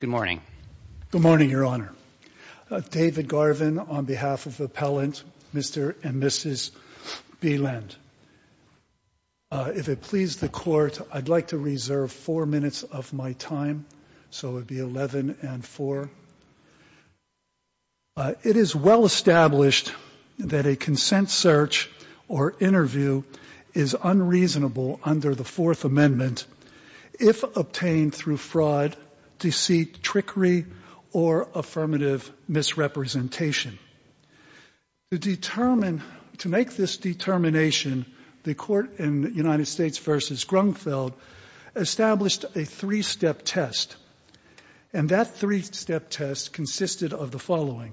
Good morning. Good morning, Your Honor. David Garvin on behalf of Appellant Mr. and Mrs. Beland. If it pleases the Court, I'd like to reserve four minutes of my time, so it would be 11 and 4. It is well established that a consent search or interview is unreasonable under the Fourth Amendment if obtained through fraud, deceit, trickery, or affirmative misrepresentation. To determine, to make this determination, the Court in United States v. Grunfeld established a three-step test. And that three-step test consisted of the following.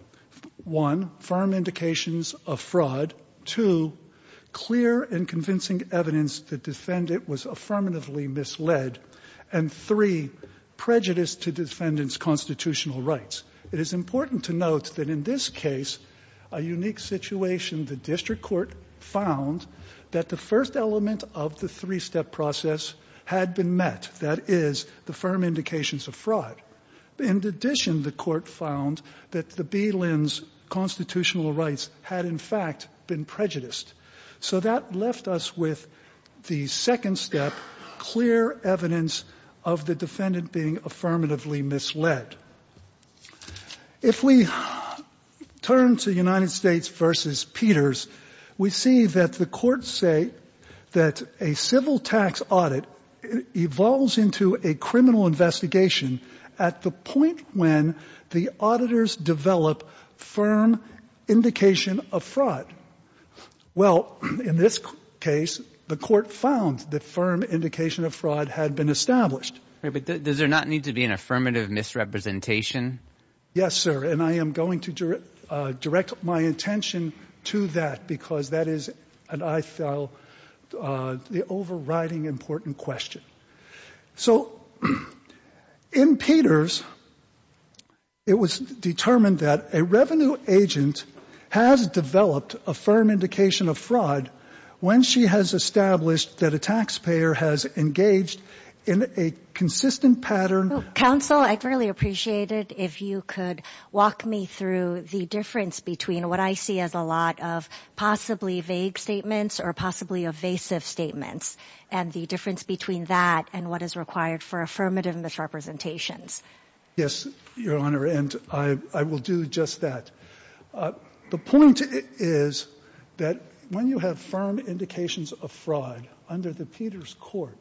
One, firm indications of fraud. Two, clear and convincing evidence the defendant was affirmatively misled. And three, prejudice to defendant's constitutional rights. It is important to note that in this case, a unique situation. The district court found that the first element of the three-step process had been met. That is, the firm indications of fraud. In addition, the Court found that the Beland's constitutional rights had, in fact, been prejudiced. So that left us with the second step, clear evidence of the defendant being affirmatively misled. If we turn to United States v. Peters, we see that the courts say that a civil when the auditors develop firm indication of fraud. Well, in this case, the Court found that firm indication of fraud had been established. But does there not need to be an affirmative misrepresentation? Yes, sir. And I am going to direct my attention to that, because that is an overriding important question. So, in Peters, it was determined that a revenue agent has developed a firm indication of fraud when she has established that a taxpayer has engaged in a consistent pattern. Counsel, I'd really appreciate it if you could walk me through the difference between what I see as a lot of possibly vague statements or possibly evasive statements. And the difference between that and what is required for affirmative misrepresentations. Yes, Your Honor, and I will do just that. The point is that when you have firm indications of fraud under the Peters Court,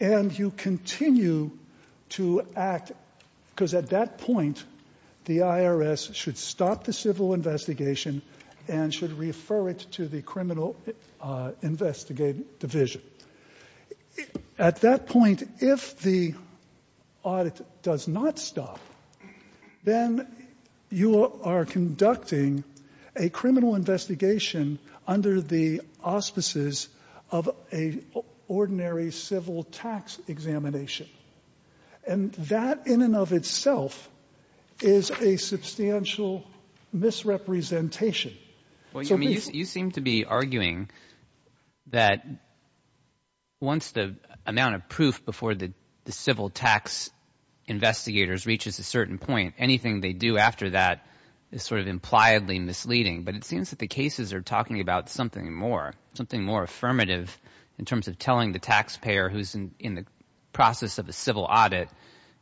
and you continue to act, because at that point, the IRS should stop the civil investigation and should refer it to the criminal investigative division. At that point, if the audit does not stop, then you are conducting a criminal investigation under the auspices of an ordinary civil tax examination. And that, in and of itself, is a substantial misrepresentation. You seem to be arguing that once the amount of proof before the civil tax investigators reaches a certain point, anything they do after that is sort of impliedly misleading. But it seems that the cases are talking about something more, something more affirmative in terms of telling the taxpayer who's in the process of a civil audit,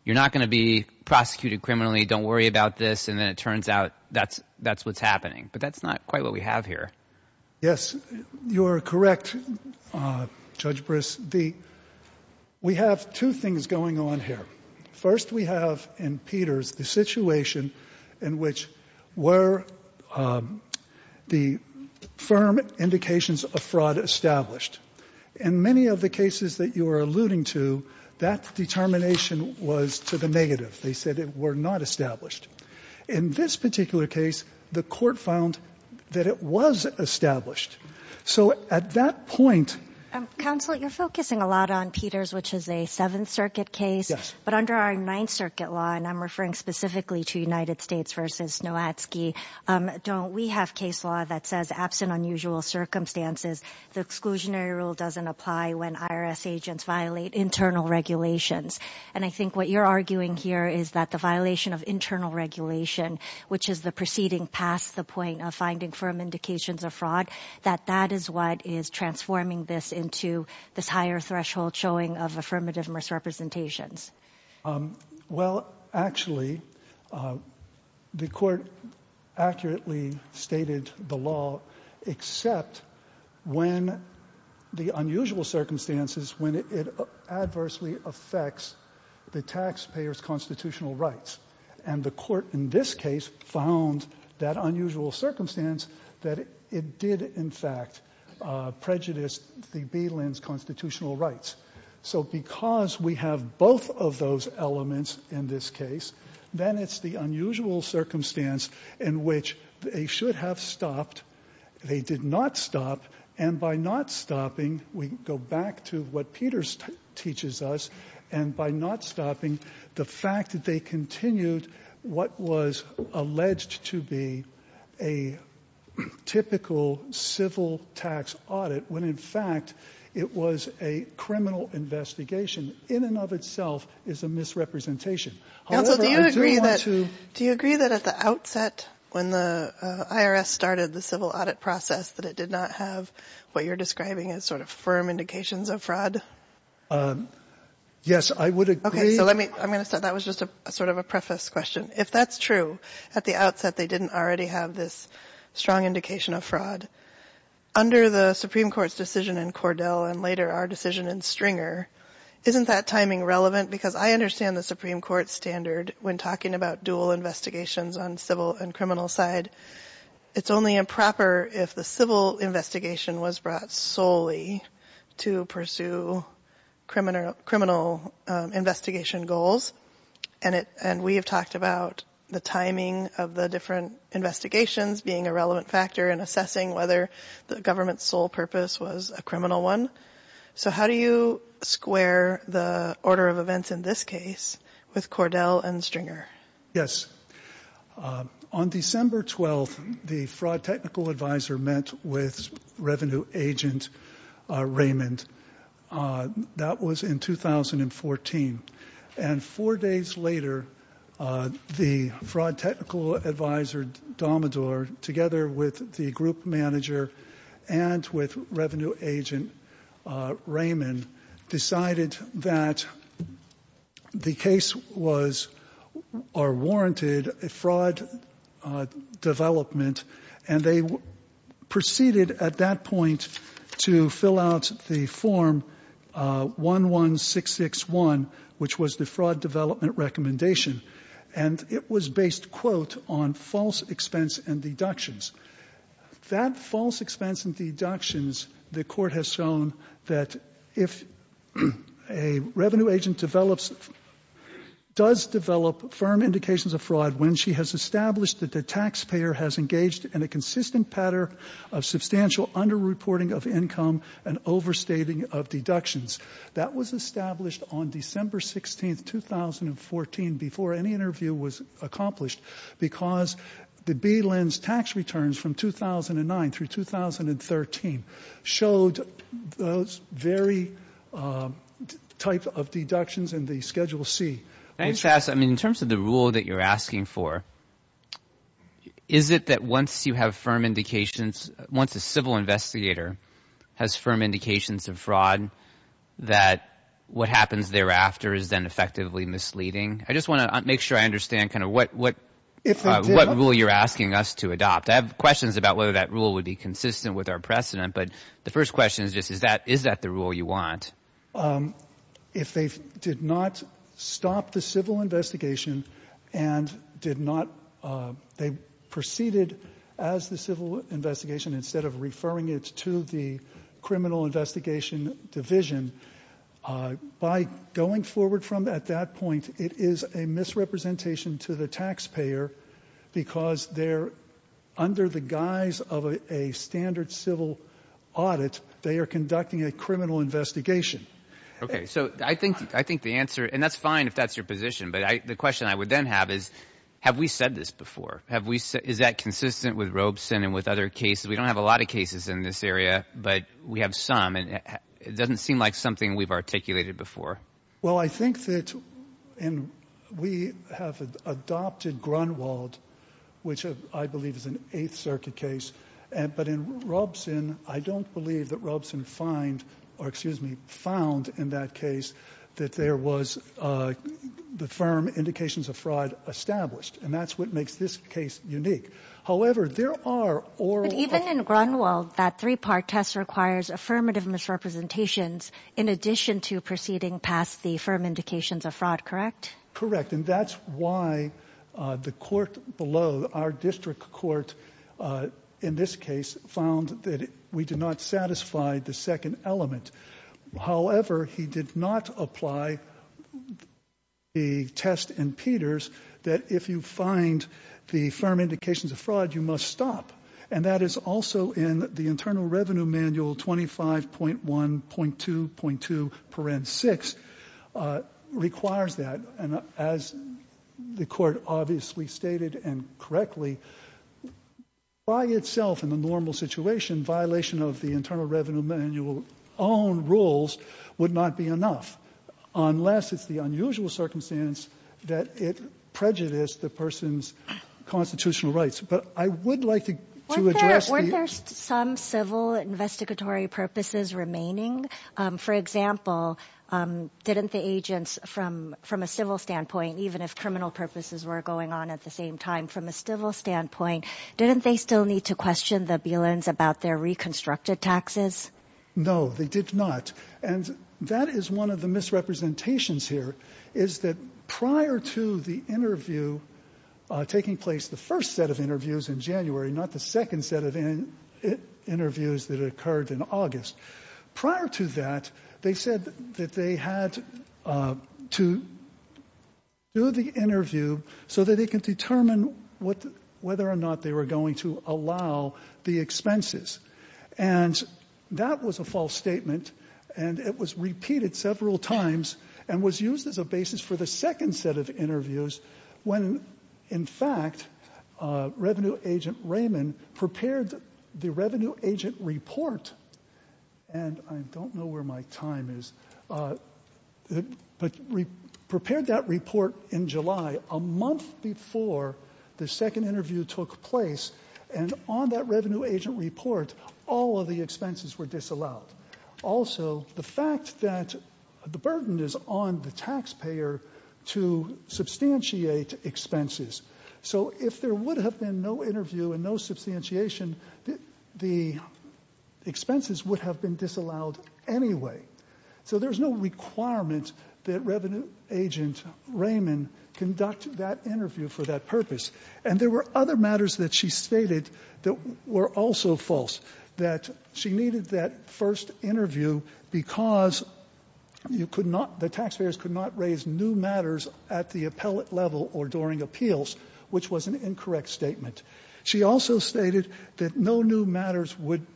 you're not going to be prosecuted criminally, don't worry about this, and then it turns out that's what's happening. But that's not quite what we have here. Yes, you are correct, Judge Briss. We have two things going on here. First, we have in Peters the situation in which were the firm indications of fraud established. In many of the cases that you are alluding to, that determination was to the negative. They said it were not established. In this particular case, the court found that it was established. So at that point — Counsel, you're focusing a lot on Peters, which is a Seventh Circuit case. Yes. But under our Ninth Circuit law, and I'm referring specifically to United States v. Nowatzki, don't we have case law that says, absent unusual circumstances, the exclusionary rule doesn't apply when IRS agents violate internal regulations. And I think what you're arguing here is that the violation of internal regulation, which is the proceeding past the point of finding firm indications of fraud, that that is what is transforming this into this higher threshold showing of affirmative misrepresentations. Well, actually, the Court accurately stated the law, except when the unusual circumstances, when it adversely affects the taxpayer's constitutional rights. And the Court in this case found that unusual circumstance that it did, in fact, prejudice the BLIN's constitutional rights. So because we have both of those elements in this case, then it's the unusual circumstance in which they should have stopped. They did not stop. And by not stopping, we go back to what Peters teaches us. And by not stopping, the fact that they continued what was alleged to be a typical civil tax audit, when, in fact, it was a criminal investigation, in and of itself is a misrepresentation. Counsel, do you agree that at the outset, when the IRS started the civil audit process, that it did not have what you're describing as sort of firm indications of fraud? Yes, I would agree. Okay, so let me, I'm going to start. That was just a sort of a preface question. If that's true, at the outset, they didn't already have this strong indication of fraud. Under the Supreme Court's decision in Cordell and later our decision in Stringer, isn't that timing relevant? Because I understand the Supreme Court standard when talking about dual investigations on civil and criminal side. It's only improper if the civil investigation was brought solely to pursue criminal investigation goals. And we have talked about the timing of the different investigations being a relevant factor in assessing whether the government's sole purpose was a criminal one. So how do you square the order of events in this case with Cordell and Stringer? Yes. On December 12th, the fraud technical advisor met with revenue agent Raymond. That was in 2014. And four days later, the fraud technical advisor, Domador, together with the group manager and with revenue agent Raymond, decided that the case was or warranted a fraud development. And they proceeded at that point to fill out the form 11661, which was the fraud development recommendation. And it was based, quote, on false expense and deductions. That false expense and deductions, the Court has shown that if a revenue agent develops does develop firm indications of fraud when she has established that the taxpayer has engaged in a consistent pattern of substantial underreporting of income and overstating of deductions, that was established on December 16th, 2014, before any interview was accomplished, because the B-Lens tax returns from 2009 through 2013 showed those very type of deductions in the Schedule C. In terms of the rule that you're asking for, is it that once you have firm indications, once a civil investigator has firm indications of fraud, that what happens thereafter is then effectively misleading? I just want to make sure I understand kind of what rule you're asking us to adopt. I have questions about whether that rule would be consistent with our precedent, but the first question is just is that the rule you want? If they did not stop the civil investigation and did not they proceeded as the civil investigation instead of referring it to the criminal investigation division, by going forward from at that point, it is a misrepresentation to the taxpayer because they're under the guise of a standard civil audit. They are conducting a criminal investigation. Okay, so I think the answer, and that's fine if that's your position, but the question I would then have is have we said this before? Is that consistent with Robeson and with other cases? We don't have a lot of cases in this area, but we have some, and it doesn't seem like something we've articulated before. Well, I think that we have adopted Grunwald, which I believe is an Eighth Circuit case. But in Robeson, I don't believe that Robeson found, or excuse me, found in that case that there was the firm indications of fraud established, and that's what makes this case unique. However, there are oral verdicts. Even in Grunwald, that three-part test requires affirmative misrepresentations in addition to proceeding past the firm indications of fraud, correct? Correct, and that's why the court below, our district court in this case, found that we did not satisfy the second element. However, he did not apply the test in Peters that if you find the firm indications of fraud, you must stop, and that is also in the Internal Revenue Manual 25.1.2.2.6 requires that. And as the Court obviously stated and correctly, by itself in the normal situation, violation of the Internal Revenue Manual own rules would not be enough unless it's the unusual circumstance that it prejudiced the person's constitutional rights. But I would like to address the ---- Weren't there some civil investigatory purposes remaining? For example, didn't the agents from a civil standpoint, even if criminal purposes were going on at the same time from a civil standpoint, didn't they still need to question the Bielans about their reconstructed taxes? No, they did not. And that is one of the misrepresentations here, is that prior to the interview taking place, the first set of interviews in January, not the second set of interviews that occurred in August, prior to that, they said that they had to do the interview so that they could determine whether or not they were going to allow the expenses. And that was a false statement, and it was repeated several times and was used as a basis for the second set of interviews when, in fact, Revenue Agent Raymond prepared the Revenue Agent Report, and I don't know where my time is, but prepared that report in July, a month before the second interview took place, and on that Revenue Agent Report, all of the expenses were disallowed. Also, the fact that the burden is on the taxpayer to substantiate expenses. So if there would have been no interview and no substantiation, the expenses would have been disallowed anyway. So there's no requirement that Revenue Agent Raymond conduct that interview for that purpose, and there were other matters that she stated that were also false, that she did not conduct the first interview because you could not, the taxpayers could not raise new matters at the appellate level or during appeals, which was an incorrect statement. She also stated that no new matters would,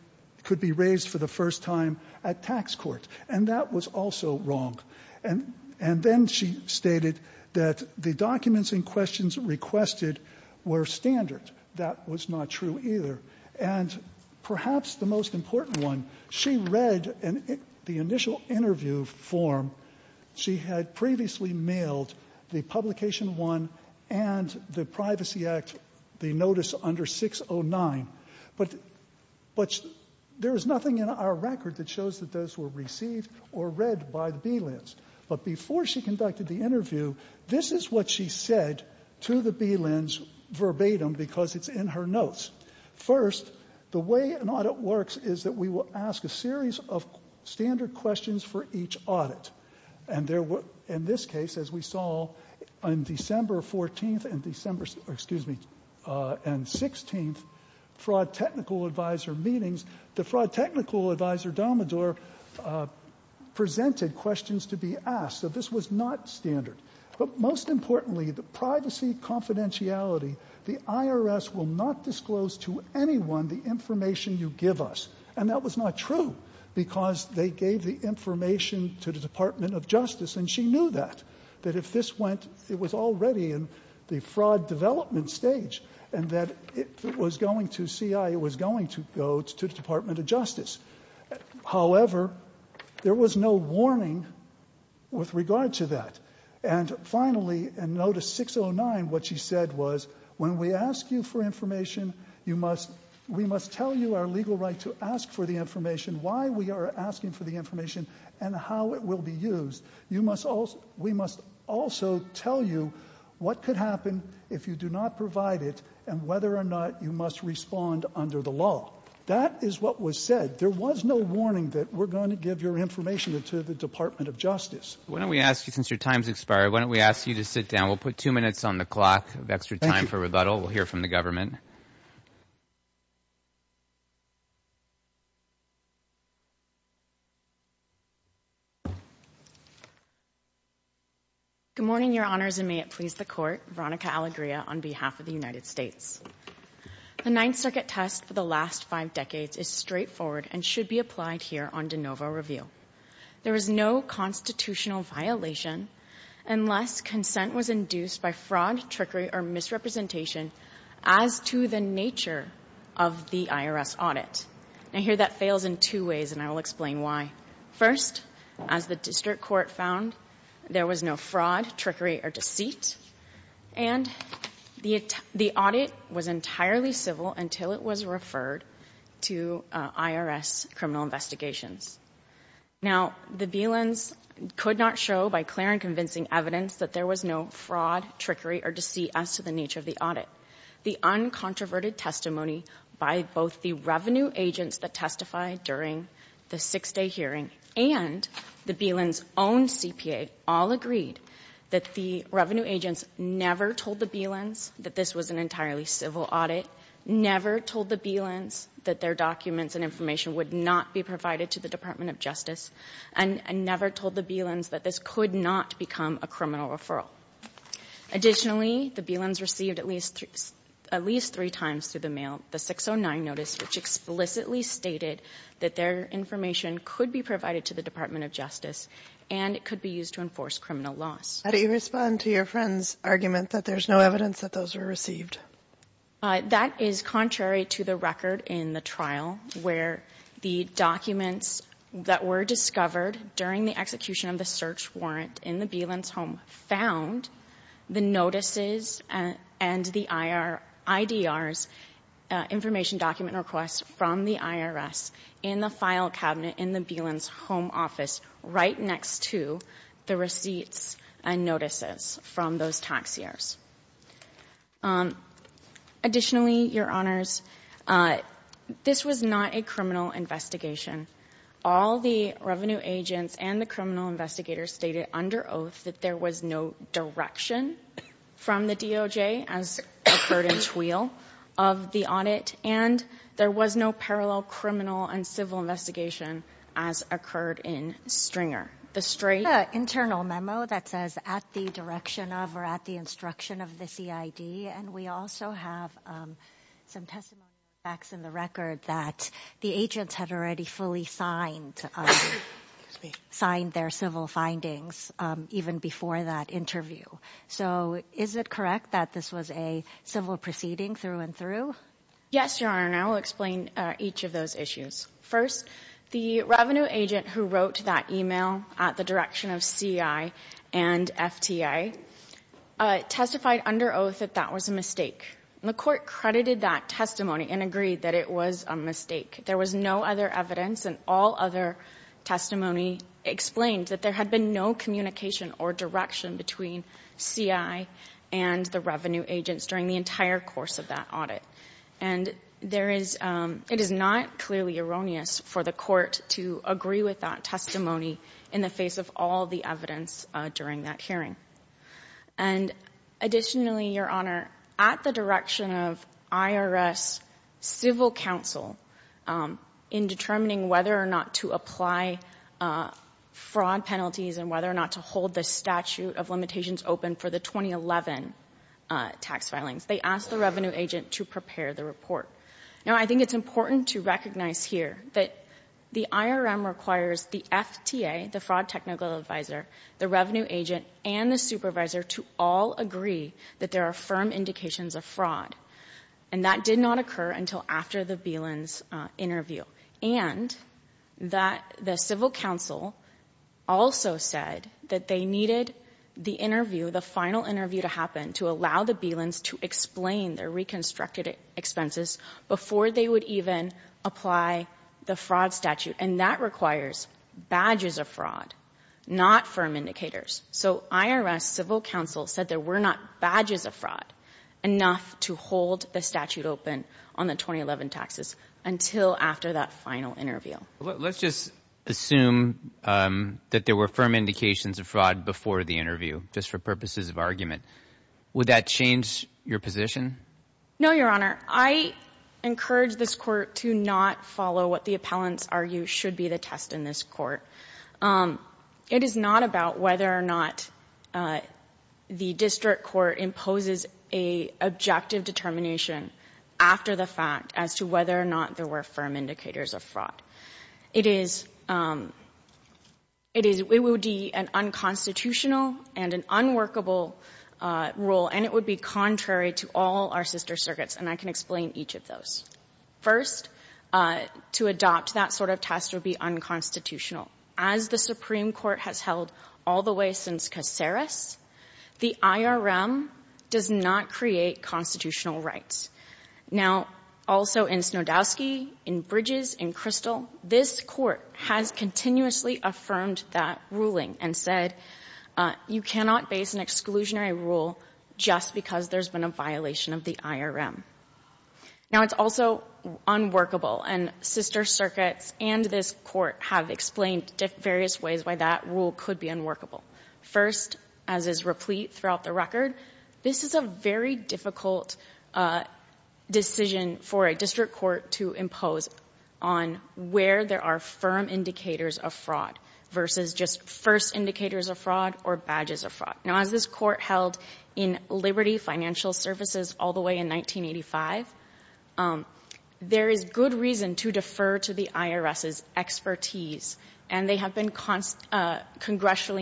could be raised for the first time at tax court, and that was also wrong. And then she stated that the documents in questions requested were standard. That was not true either. And perhaps the most important one, she read the initial interview form. She had previously mailed the Publication I and the Privacy Act, the notice under 609. But there is nothing in our record that shows that those were received or read by the BLINs verbatim because it's in her notes. First, the way an audit works is that we will ask a series of standard questions for each audit. And there were, in this case, as we saw on December 14th and December, excuse me, and 16th, Fraud Technical Advisor meetings, the Fraud Technical Advisor, Domidor, presented questions to be asked. So this was not standard. But most importantly, the privacy confidentiality, the IRS will not disclose to anyone the information you give us. And that was not true because they gave the information to the Department of Justice, and she knew that, that if this went, it was already in the fraud development stage, and that it was going to CI, it was going to go to the Department of Justice. However, there was no warning with regard to that. And finally, in notice 609, what she said was, when we ask you for information, you must, we must tell you our legal right to ask for the information, why we are asking for the information, and how it will be used. You must also, we must also tell you what could happen if you do not provide it, and whether or not you must respond under the law. That is what was said. There was no warning that we're going to give your information to the Department of Justice. Why don't we ask you, since your time's expired, why don't we ask you to sit down. We'll put two minutes on the clock of extra time for rebuttal. We'll hear from the government. Good morning, Your Honors, and may it please the Court. Veronica Alegria, on behalf of the United States. The Ninth Circuit test for the last five decades is straightforward and should be applied here on de novo review. There is no constitutional violation unless consent was induced by fraud, trickery, or misrepresentation as to the nature of the IRS audit. I hear that fails in two ways, and I will explain why. First, as the district court found, there was no fraud, trickery, or deceit, and the audit was entirely civil until it was referred to IRS criminal investigations. Now, the Belens could not show by clear and convincing evidence that there was no fraud, trickery, or deceit as to the nature of the audit. The uncontroverted testimony by both the revenue agents that testified during the six-day hearing and the Belens' own CPA all agreed that the revenue agents never told the Belens that this was an entirely civil audit, never told the Belens that their documents and information would not be provided to the Department of Justice, and never told the Belens that this could not become a criminal referral. Additionally, the Belens received at least three times through the mail the 609 notice, which explicitly stated that their information could be provided to the Department of Justice and it could be used to enforce criminal laws. How do you respond to your friend's argument that there's no evidence that those were received? That is contrary to the record in the trial where the documents that were discovered during the execution of the search warrant in the Belens' home found the notices and the IDR's information document requests from the IRS in the file cabinet in the Belens' home office right next to the receipts and notices from those taxiers. Additionally, Your Honors, this was not a criminal investigation. All the revenue agents and the criminal investigators stated under oath that there was no direction from the DOJ as occurred in Tweal of the audit, and there was no parallel criminal and civil investigation as occurred in Stringer. There's an internal memo that says, at the direction of or at the instruction of the CID, and we also have some testimonial facts in the record that the agents had already fully signed their civil findings even before that interview. So is it correct that this was a civil proceeding through and through? Yes, Your Honor, and I will explain each of those issues. First, the revenue agent who wrote that email at the direction of CI and FTA testified under oath that that was a mistake. And the Court credited that testimony and agreed that it was a mistake. There was no other evidence and all other testimony explained that there had been no communication or direction between CI and the revenue agents during the entire course of that audit. And it is not clearly erroneous for the Court to agree with that testimony in the face of all the evidence during that hearing. And additionally, Your Honor, at the direction of IRS civil counsel, in determining whether or not to apply fraud penalties and whether or not to hold the statute of limitations open for the 2011 tax filings, they asked the revenue agent to prepare the report. Now, I think it's important to recognize here that the IRM requires the FTA, the Fraud Technical Advisor, the revenue agent, and the supervisor to all agree that there are firm indications of fraud. And that did not occur until after the Bielans' interview. And that the civil counsel also said that they needed the interview, the final interview to happen, to allow the Bielans to explain their reconstructed expenses before they would even apply the fraud statute. And that requires badges of fraud, not firm indicators. So IRS civil counsel said there were not badges of fraud enough to hold the statute open on the 2011 taxes until after that final interview. Let's just assume that there were firm indications of fraud before the interview, just for purposes of argument. Would that change your position? No, Your Honor. I encourage this Court to not follow what the appellants argue should be the test in this Court. It is not about whether or not the district court imposes a objective determination after the fact as to whether or not there were firm indicators of fraud. It is an unconstitutional and an unworkable rule, and it would be contrary to all our sister circuits, and I can explain each of those. First, to adopt that sort of test would be unconstitutional. As the Supreme Court has held all the way since Caceres, the IRM does not create constitutional rights. Now, also in Snodowski, in Bridges, in Crystal, this Court has continuously affirmed that ruling and said you cannot base an exclusionary rule just because there's been a violation of the IRM. Now, it's also unworkable, and sister circuits and this Court have explained various ways why that rule could be unworkable. First, as is replete throughout the record, this is a very difficult decision for a district court to impose on where there are firm indicators of fraud versus just first indicators of fraud or badges of fraud. Now, as this Court held in Liberty Financial Services all the way in 1985, there is good reason to defer to the IRS's expertise, and they have been congressionally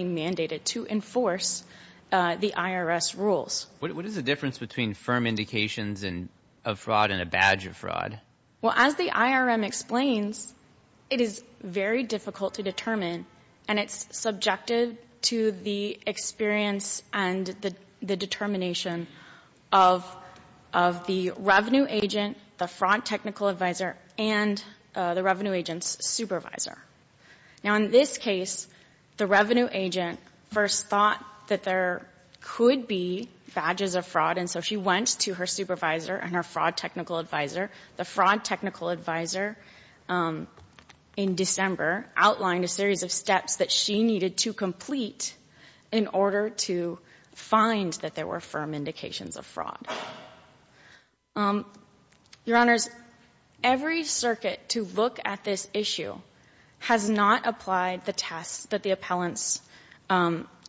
mandated to enforce the IRS rules. What is the difference between firm indications of fraud and a badge of fraud? Well, as the IRM explains, it is very difficult to determine, and it's subjected to the experience and the determination of the revenue agent, the fraud technical advisor, and the revenue agent's supervisor. Now, in this case, the revenue agent first thought that there could be badges of fraud, and so she went to her supervisor and her fraud technical advisor. The fraud technical advisor in December outlined a series of steps that she needed to complete in order to find that there were firm indications of fraud. Your Honors, every circuit to look at this issue has not applied the tests that the appellants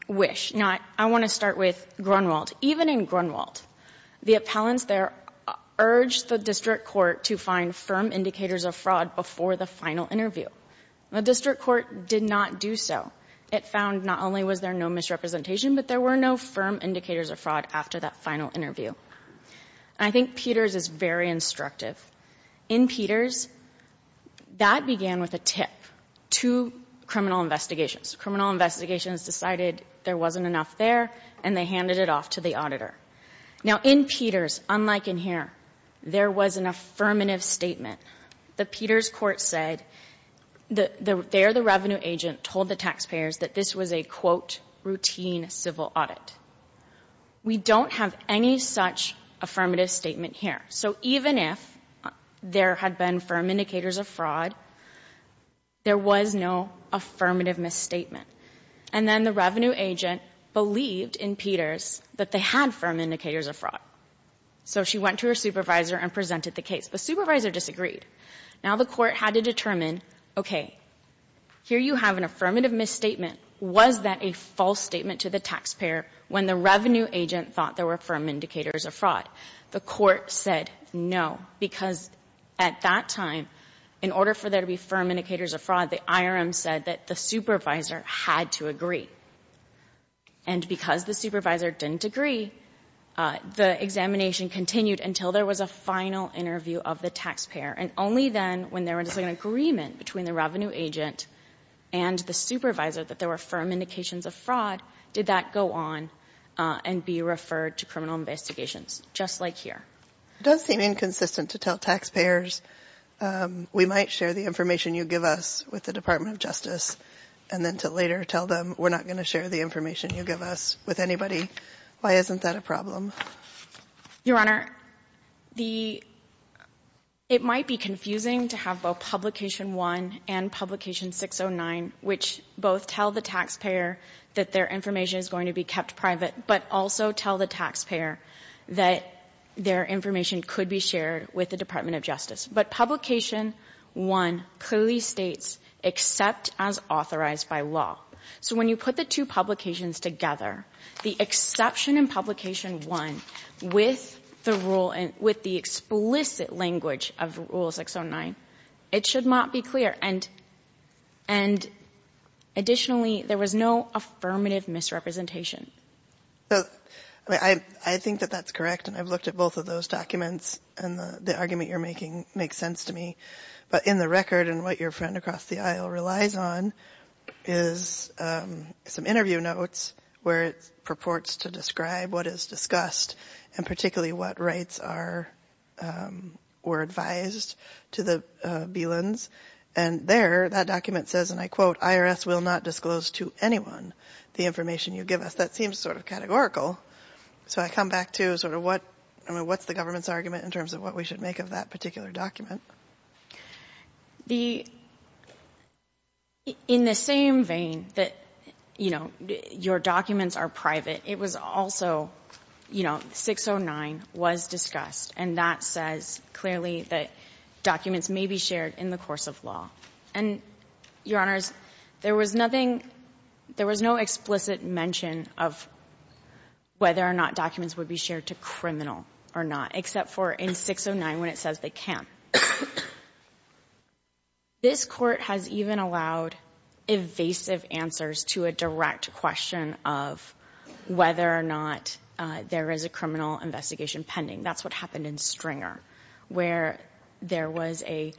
wish. Now, I want to start with Grunwald. Even in Grunwald, the appellants there urged the district court to find firm indicators of fraud before the final interview. The district court did not do so. It found not only was there no misrepresentation, but there were no firm indicators of fraud after that final interview. I think Peters is very instructive. In Peters, that began with a tip to criminal investigations. Criminal investigations decided there wasn't enough there, and they handed it off to the auditor. Now, in Peters, unlike in here, there was an affirmative statement. The Peters court said there the revenue agent told the taxpayers that this was a, quote, routine civil audit. We don't have any such affirmative statement here. So even if there had been firm indicators of fraud, there was no affirmative misstatement. And then the revenue agent believed in Peters that they had firm indicators of fraud. So she went to her supervisor and presented the case. The supervisor disagreed. Now the court had to determine, okay, here you have an affirmative misstatement. Was that a false statement to the taxpayer when the revenue agent thought there were firm indicators of fraud? The court said no, because at that time, in order for there to be firm indicators of fraud, the IRM said that the supervisor had to agree. And because the supervisor didn't agree, the examination continued until there was a final interview of the taxpayer. And only then, when there was an agreement between the revenue agent and the supervisor that there were firm indications of fraud, did that go on and be referred to criminal investigations, just like here. It does seem inconsistent to tell taxpayers, we might share the information you give us with the Department of Justice, and then to later tell them, we're not going to share the information you give us with anybody. Why isn't that a problem? Your Honor, the — it might be confusing to have both Publication I and Publication 609, which both tell the taxpayer that their information is going to be kept private, but also tell the taxpayer that their information could be shared with the Department of Justice. But Publication I clearly states, except as authorized by law. So when you put the two publications together, the exception in Publication I, with the rule — with the explicit language of Rule 609, it should not be clear. And additionally, there was no affirmative misrepresentation. But I think that that's correct, and I've looked at both of those documents, and the argument you're making makes sense to me. But in the record, and what your friend across the aisle relies on, is some interview notes where it purports to describe what is discussed, and particularly what rights are — were advised to the Belins. And there, that document says, and I quote, IRS will not disclose to anyone the information you give us. That seems sort of categorical. So I come back to sort of what — I mean, what's the government's argument in that particular document? The — in the same vein that, you know, your documents are private, it was also, you know, 609 was discussed, and that says clearly that documents may be shared in the course of law. And, Your Honors, there was nothing — there was no explicit mention of whether or not documents would be shared to criminal or not, except for in 609 when it says they can't. This Court has even allowed evasive answers to a direct question of whether or not there is a criminal investigation pending. That's what happened in Stringer, where there was a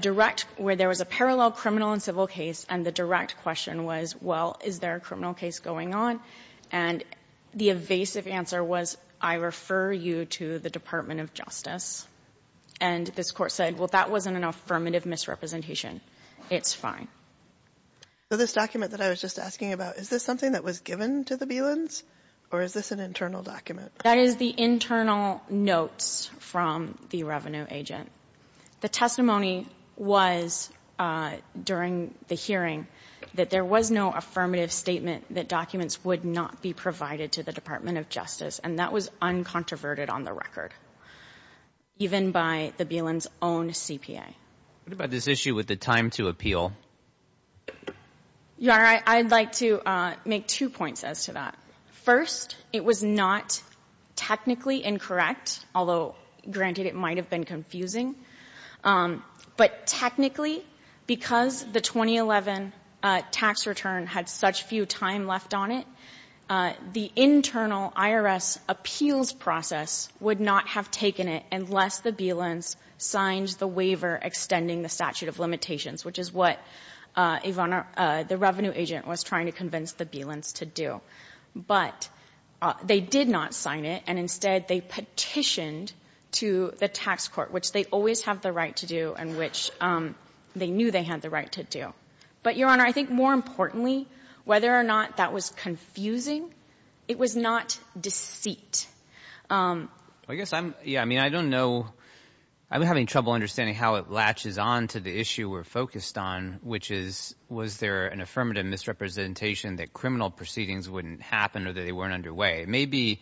direct — where there was a parallel criminal and civil case, and the direct question was, well, is there a criminal case going on? And the evasive answer was, I refer you to the Department of Justice. And this Court said, well, that wasn't an affirmative misrepresentation. It's fine. So this document that I was just asking about, is this something that was given to the Bielans, or is this an internal document? That is the internal notes from the revenue agent. The testimony was, during the hearing, that there was no affirmative statement that documents would not be provided to the Department of Justice, and that was uncontroverted on the record, even by the Bielans' own CPA. What about this issue with the time to appeal? Your Honor, I'd like to make two points as to that. First, it was not technically incorrect, although, granted, it might have been confusing, but technically, because the 2011 tax return had such few time left on it, the internal IRS appeals process would not have taken it unless the Bielans signed the waiver extending the statute of limitations, which is what, Your Honor, the revenue agent was trying to convince the Bielans to do. But they did not sign it, and instead they petitioned to the tax court, which they always have the right to do, and which they knew they had the right to do. But, Your Honor, I think, more importantly, whether or not that was confusing, it was not deceit. I guess I'm, yeah, I mean, I don't know, I'm having trouble understanding how it latches on to the issue we're focused on, which is, was there an affirmative misrepresentation that criminal proceedings wouldn't happen or that they weren't underway? It may be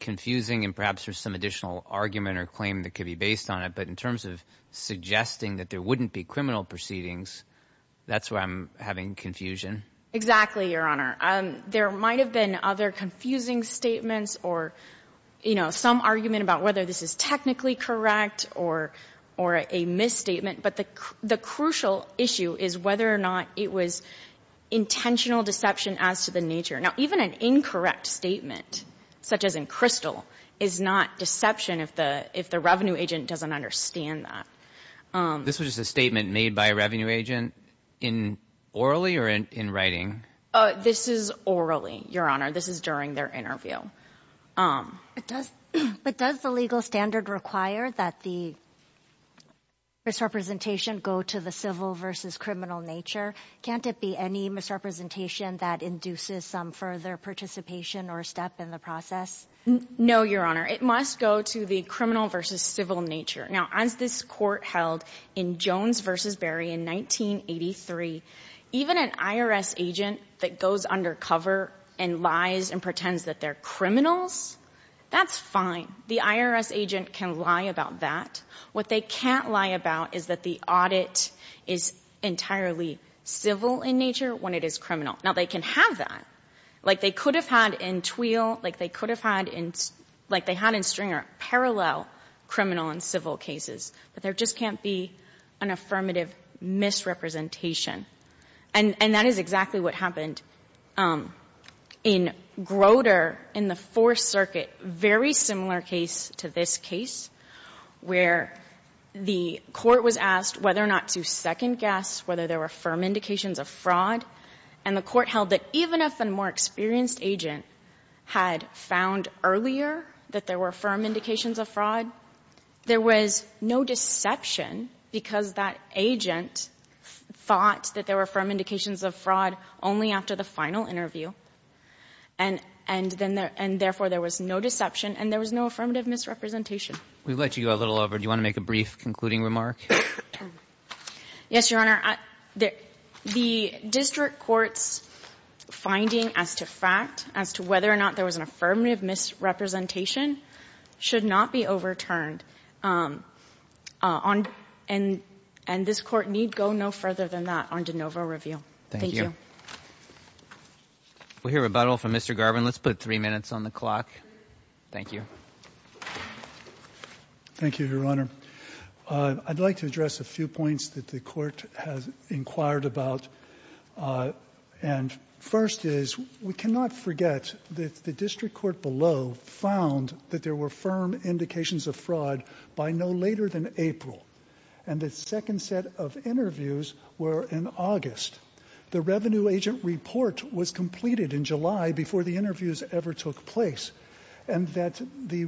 confusing, and perhaps there's some additional argument or claim that may be based on it, but in terms of suggesting that there wouldn't be criminal proceedings, that's why I'm having confusion. Exactly, Your Honor. There might have been other confusing statements or, you know, some argument about whether this is technically correct or a misstatement, but the crucial issue is whether or not it was intentional deception as to the nature. Now, even an incorrect statement, such as in Crystal, is not deception if the revenue agent doesn't understand that. This was just a statement made by a revenue agent in orally or in writing? This is orally, Your Honor. This is during their interview. But does the legal standard require that the misrepresentation go to the civil versus criminal nature? Can't it be any misrepresentation that induces some further participation or step in the process? No, Your Honor. It must go to the criminal versus civil nature. Now, as this Court held in Jones v. Berry in 1983, even an IRS agent that goes undercover and lies and pretends that they're criminals, that's fine. The IRS agent can lie about that. What they can't lie about is that the audit is entirely civil in nature when it is criminal. Now, they can have that. Like they could have had in Tweal, like they could have had in Stringer, parallel criminal and civil cases. But there just can't be an affirmative misrepresentation. And that is exactly what happened in Groter in the Fourth Circuit, very similar case to this case, where the Court was asked whether or not to second-guess whether there were firm indications of fraud. And the Court held that even if the more experienced agent had found earlier that there were firm indications of fraud, there was no deception because that agent thought that there were firm indications of fraud only after the final interview, and therefore there was no deception and there was no affirmative misrepresentation. We've let you go a little over. Do you want to make a brief concluding remark? Yes, Your Honor. The district court's finding as to fact, as to whether or not there was an affirmative misrepresentation, should not be overturned. And this Court need go no further than that on de novo review. Thank you. Thank you. We'll hear rebuttal from Mr. Garvin. Let's put three minutes on the clock. Thank you. Thank you, Your Honor. I'd like to address a few points that the Court has inquired about. And first is, we cannot forget that the district court below found that there were firm indications of fraud by no later than April, and the second set of interviews were in August. The revenue agent report was completed in July before the interviews ever took place, and that the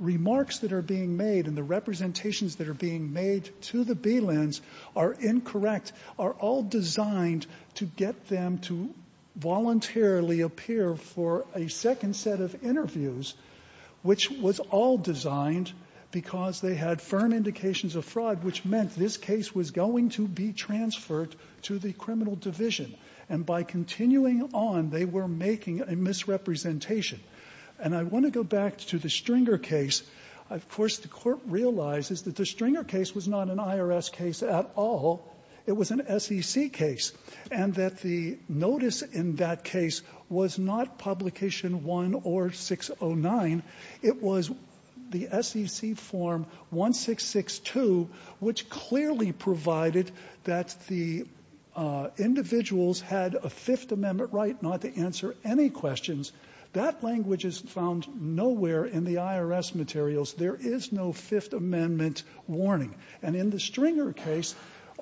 remarks that are being made and the representations that are being made to the Belands are incorrect, are all designed to get them to voluntarily appear for a second set of interviews, which was all designed because they had firm indications of fraud, which meant this case was going to be transferred to the criminal division. And by continuing on, they were making a misrepresentation. And I want to go back to the Stringer case. Of course, the Court realizes that the Stringer case was not an IRS case at all. It was an SEC case, and that the notice in that case was not Publication I or 609. It was the SEC Form 1662, which clearly provided that the individuals had a Fifth Amendment right not to answer any questions. That language is found nowhere in the IRS materials. There is no Fifth Amendment warning. And in the Stringer case,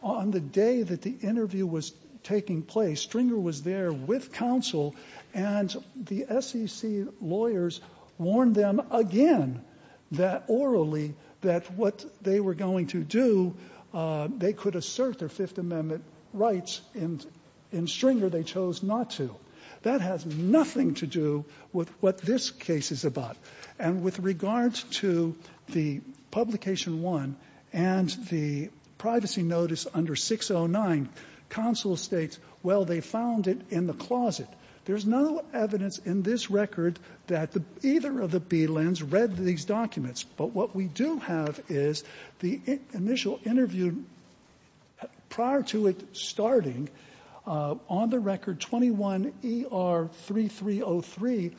on the day that the interview was taking place, Stringer was there with counsel, and the SEC lawyers warned them again that orally that what they were going to do, they could assert their Fifth Amendment rights. In Stringer, they chose not to. That has nothing to do with what this case is about. And with regard to the Publication I and the privacy notice under 609, counsel states, well, they found it in the closet. There's no evidence in this record that either of the Belands read these documents. But what we do have is the initial interview prior to it starting, on the record 21-ER-3303,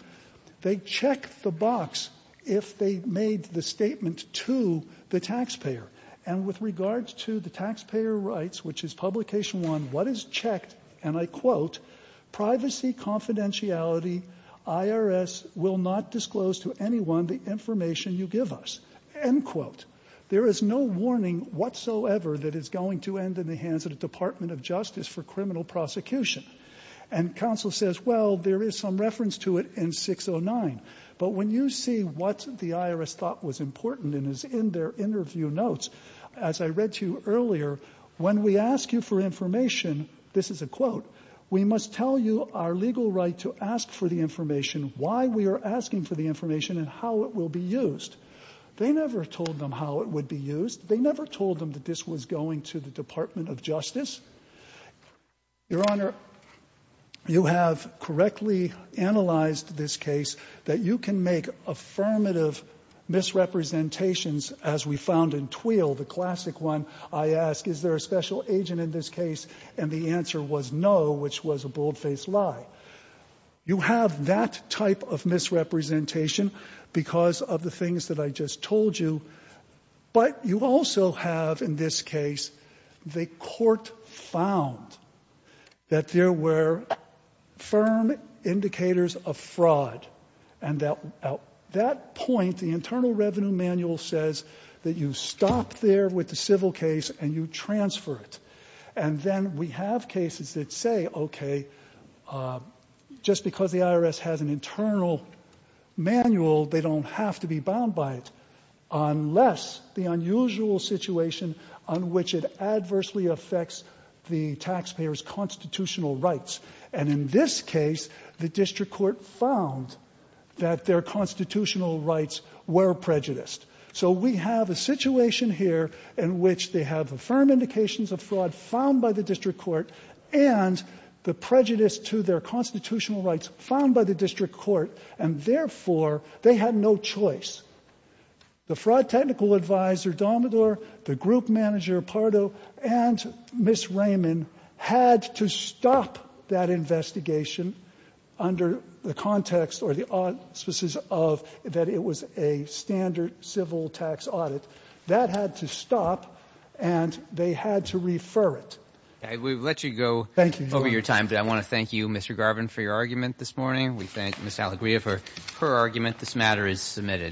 they checked the box if they made the statement to the taxpayer. And with regard to the taxpayer rights, which is Publication I, what is checked, and I quote, privacy confidentiality, IRS will not disclose to anyone the information you give us, end quote. There is no warning whatsoever that is going to end in the hands of the Department of Justice for criminal prosecution. And counsel says, well, there is some reference to it in 609. But when you see what the IRS thought was important and is in their interview notes, as I read to you earlier, when we ask you for information, this is a quote, we must tell you our legal right to ask for the information, why we are asking for the information and how it will be used. They never told them how it would be used. They never told them that this was going to the Department of Justice. Your Honor, you have correctly analyzed this case that you can make affirmative misrepresentations, as we found in Twheel, the classic one. I ask, is there a special agent in this case? And the answer was no, which was a bold-faced lie. You have that type of misrepresentation because of the things that I just told you. But you also have, in this case, the court found that there were firm indicators of fraud, and at that point, the Internal Revenue Manual says that you stop there with the civil case and you transfer it. And then we have cases that say, okay, just because the IRS has an internal manual, they don't have to be bound by it unless the unusual situation on which it adversely affects the taxpayer's constitutional rights. And in this case, the district court found that their constitutional rights were prejudiced. So we have a situation here in which they have firm indications of fraud found by the district court and the prejudice to their constitutional rights found by the district court, and therefore, they had no choice. The fraud technical advisor, Domidor, the group manager, Pardo, and Ms. Raymond had to stop that investigation under the context or the auspices of that it was a standard civil tax audit. That had to stop, and they had to refer it. We'll let you go over your time. I want to thank you, Mr. Garvin, for your argument this morning. We thank Ms. Alegria for her argument. This matter is submitted.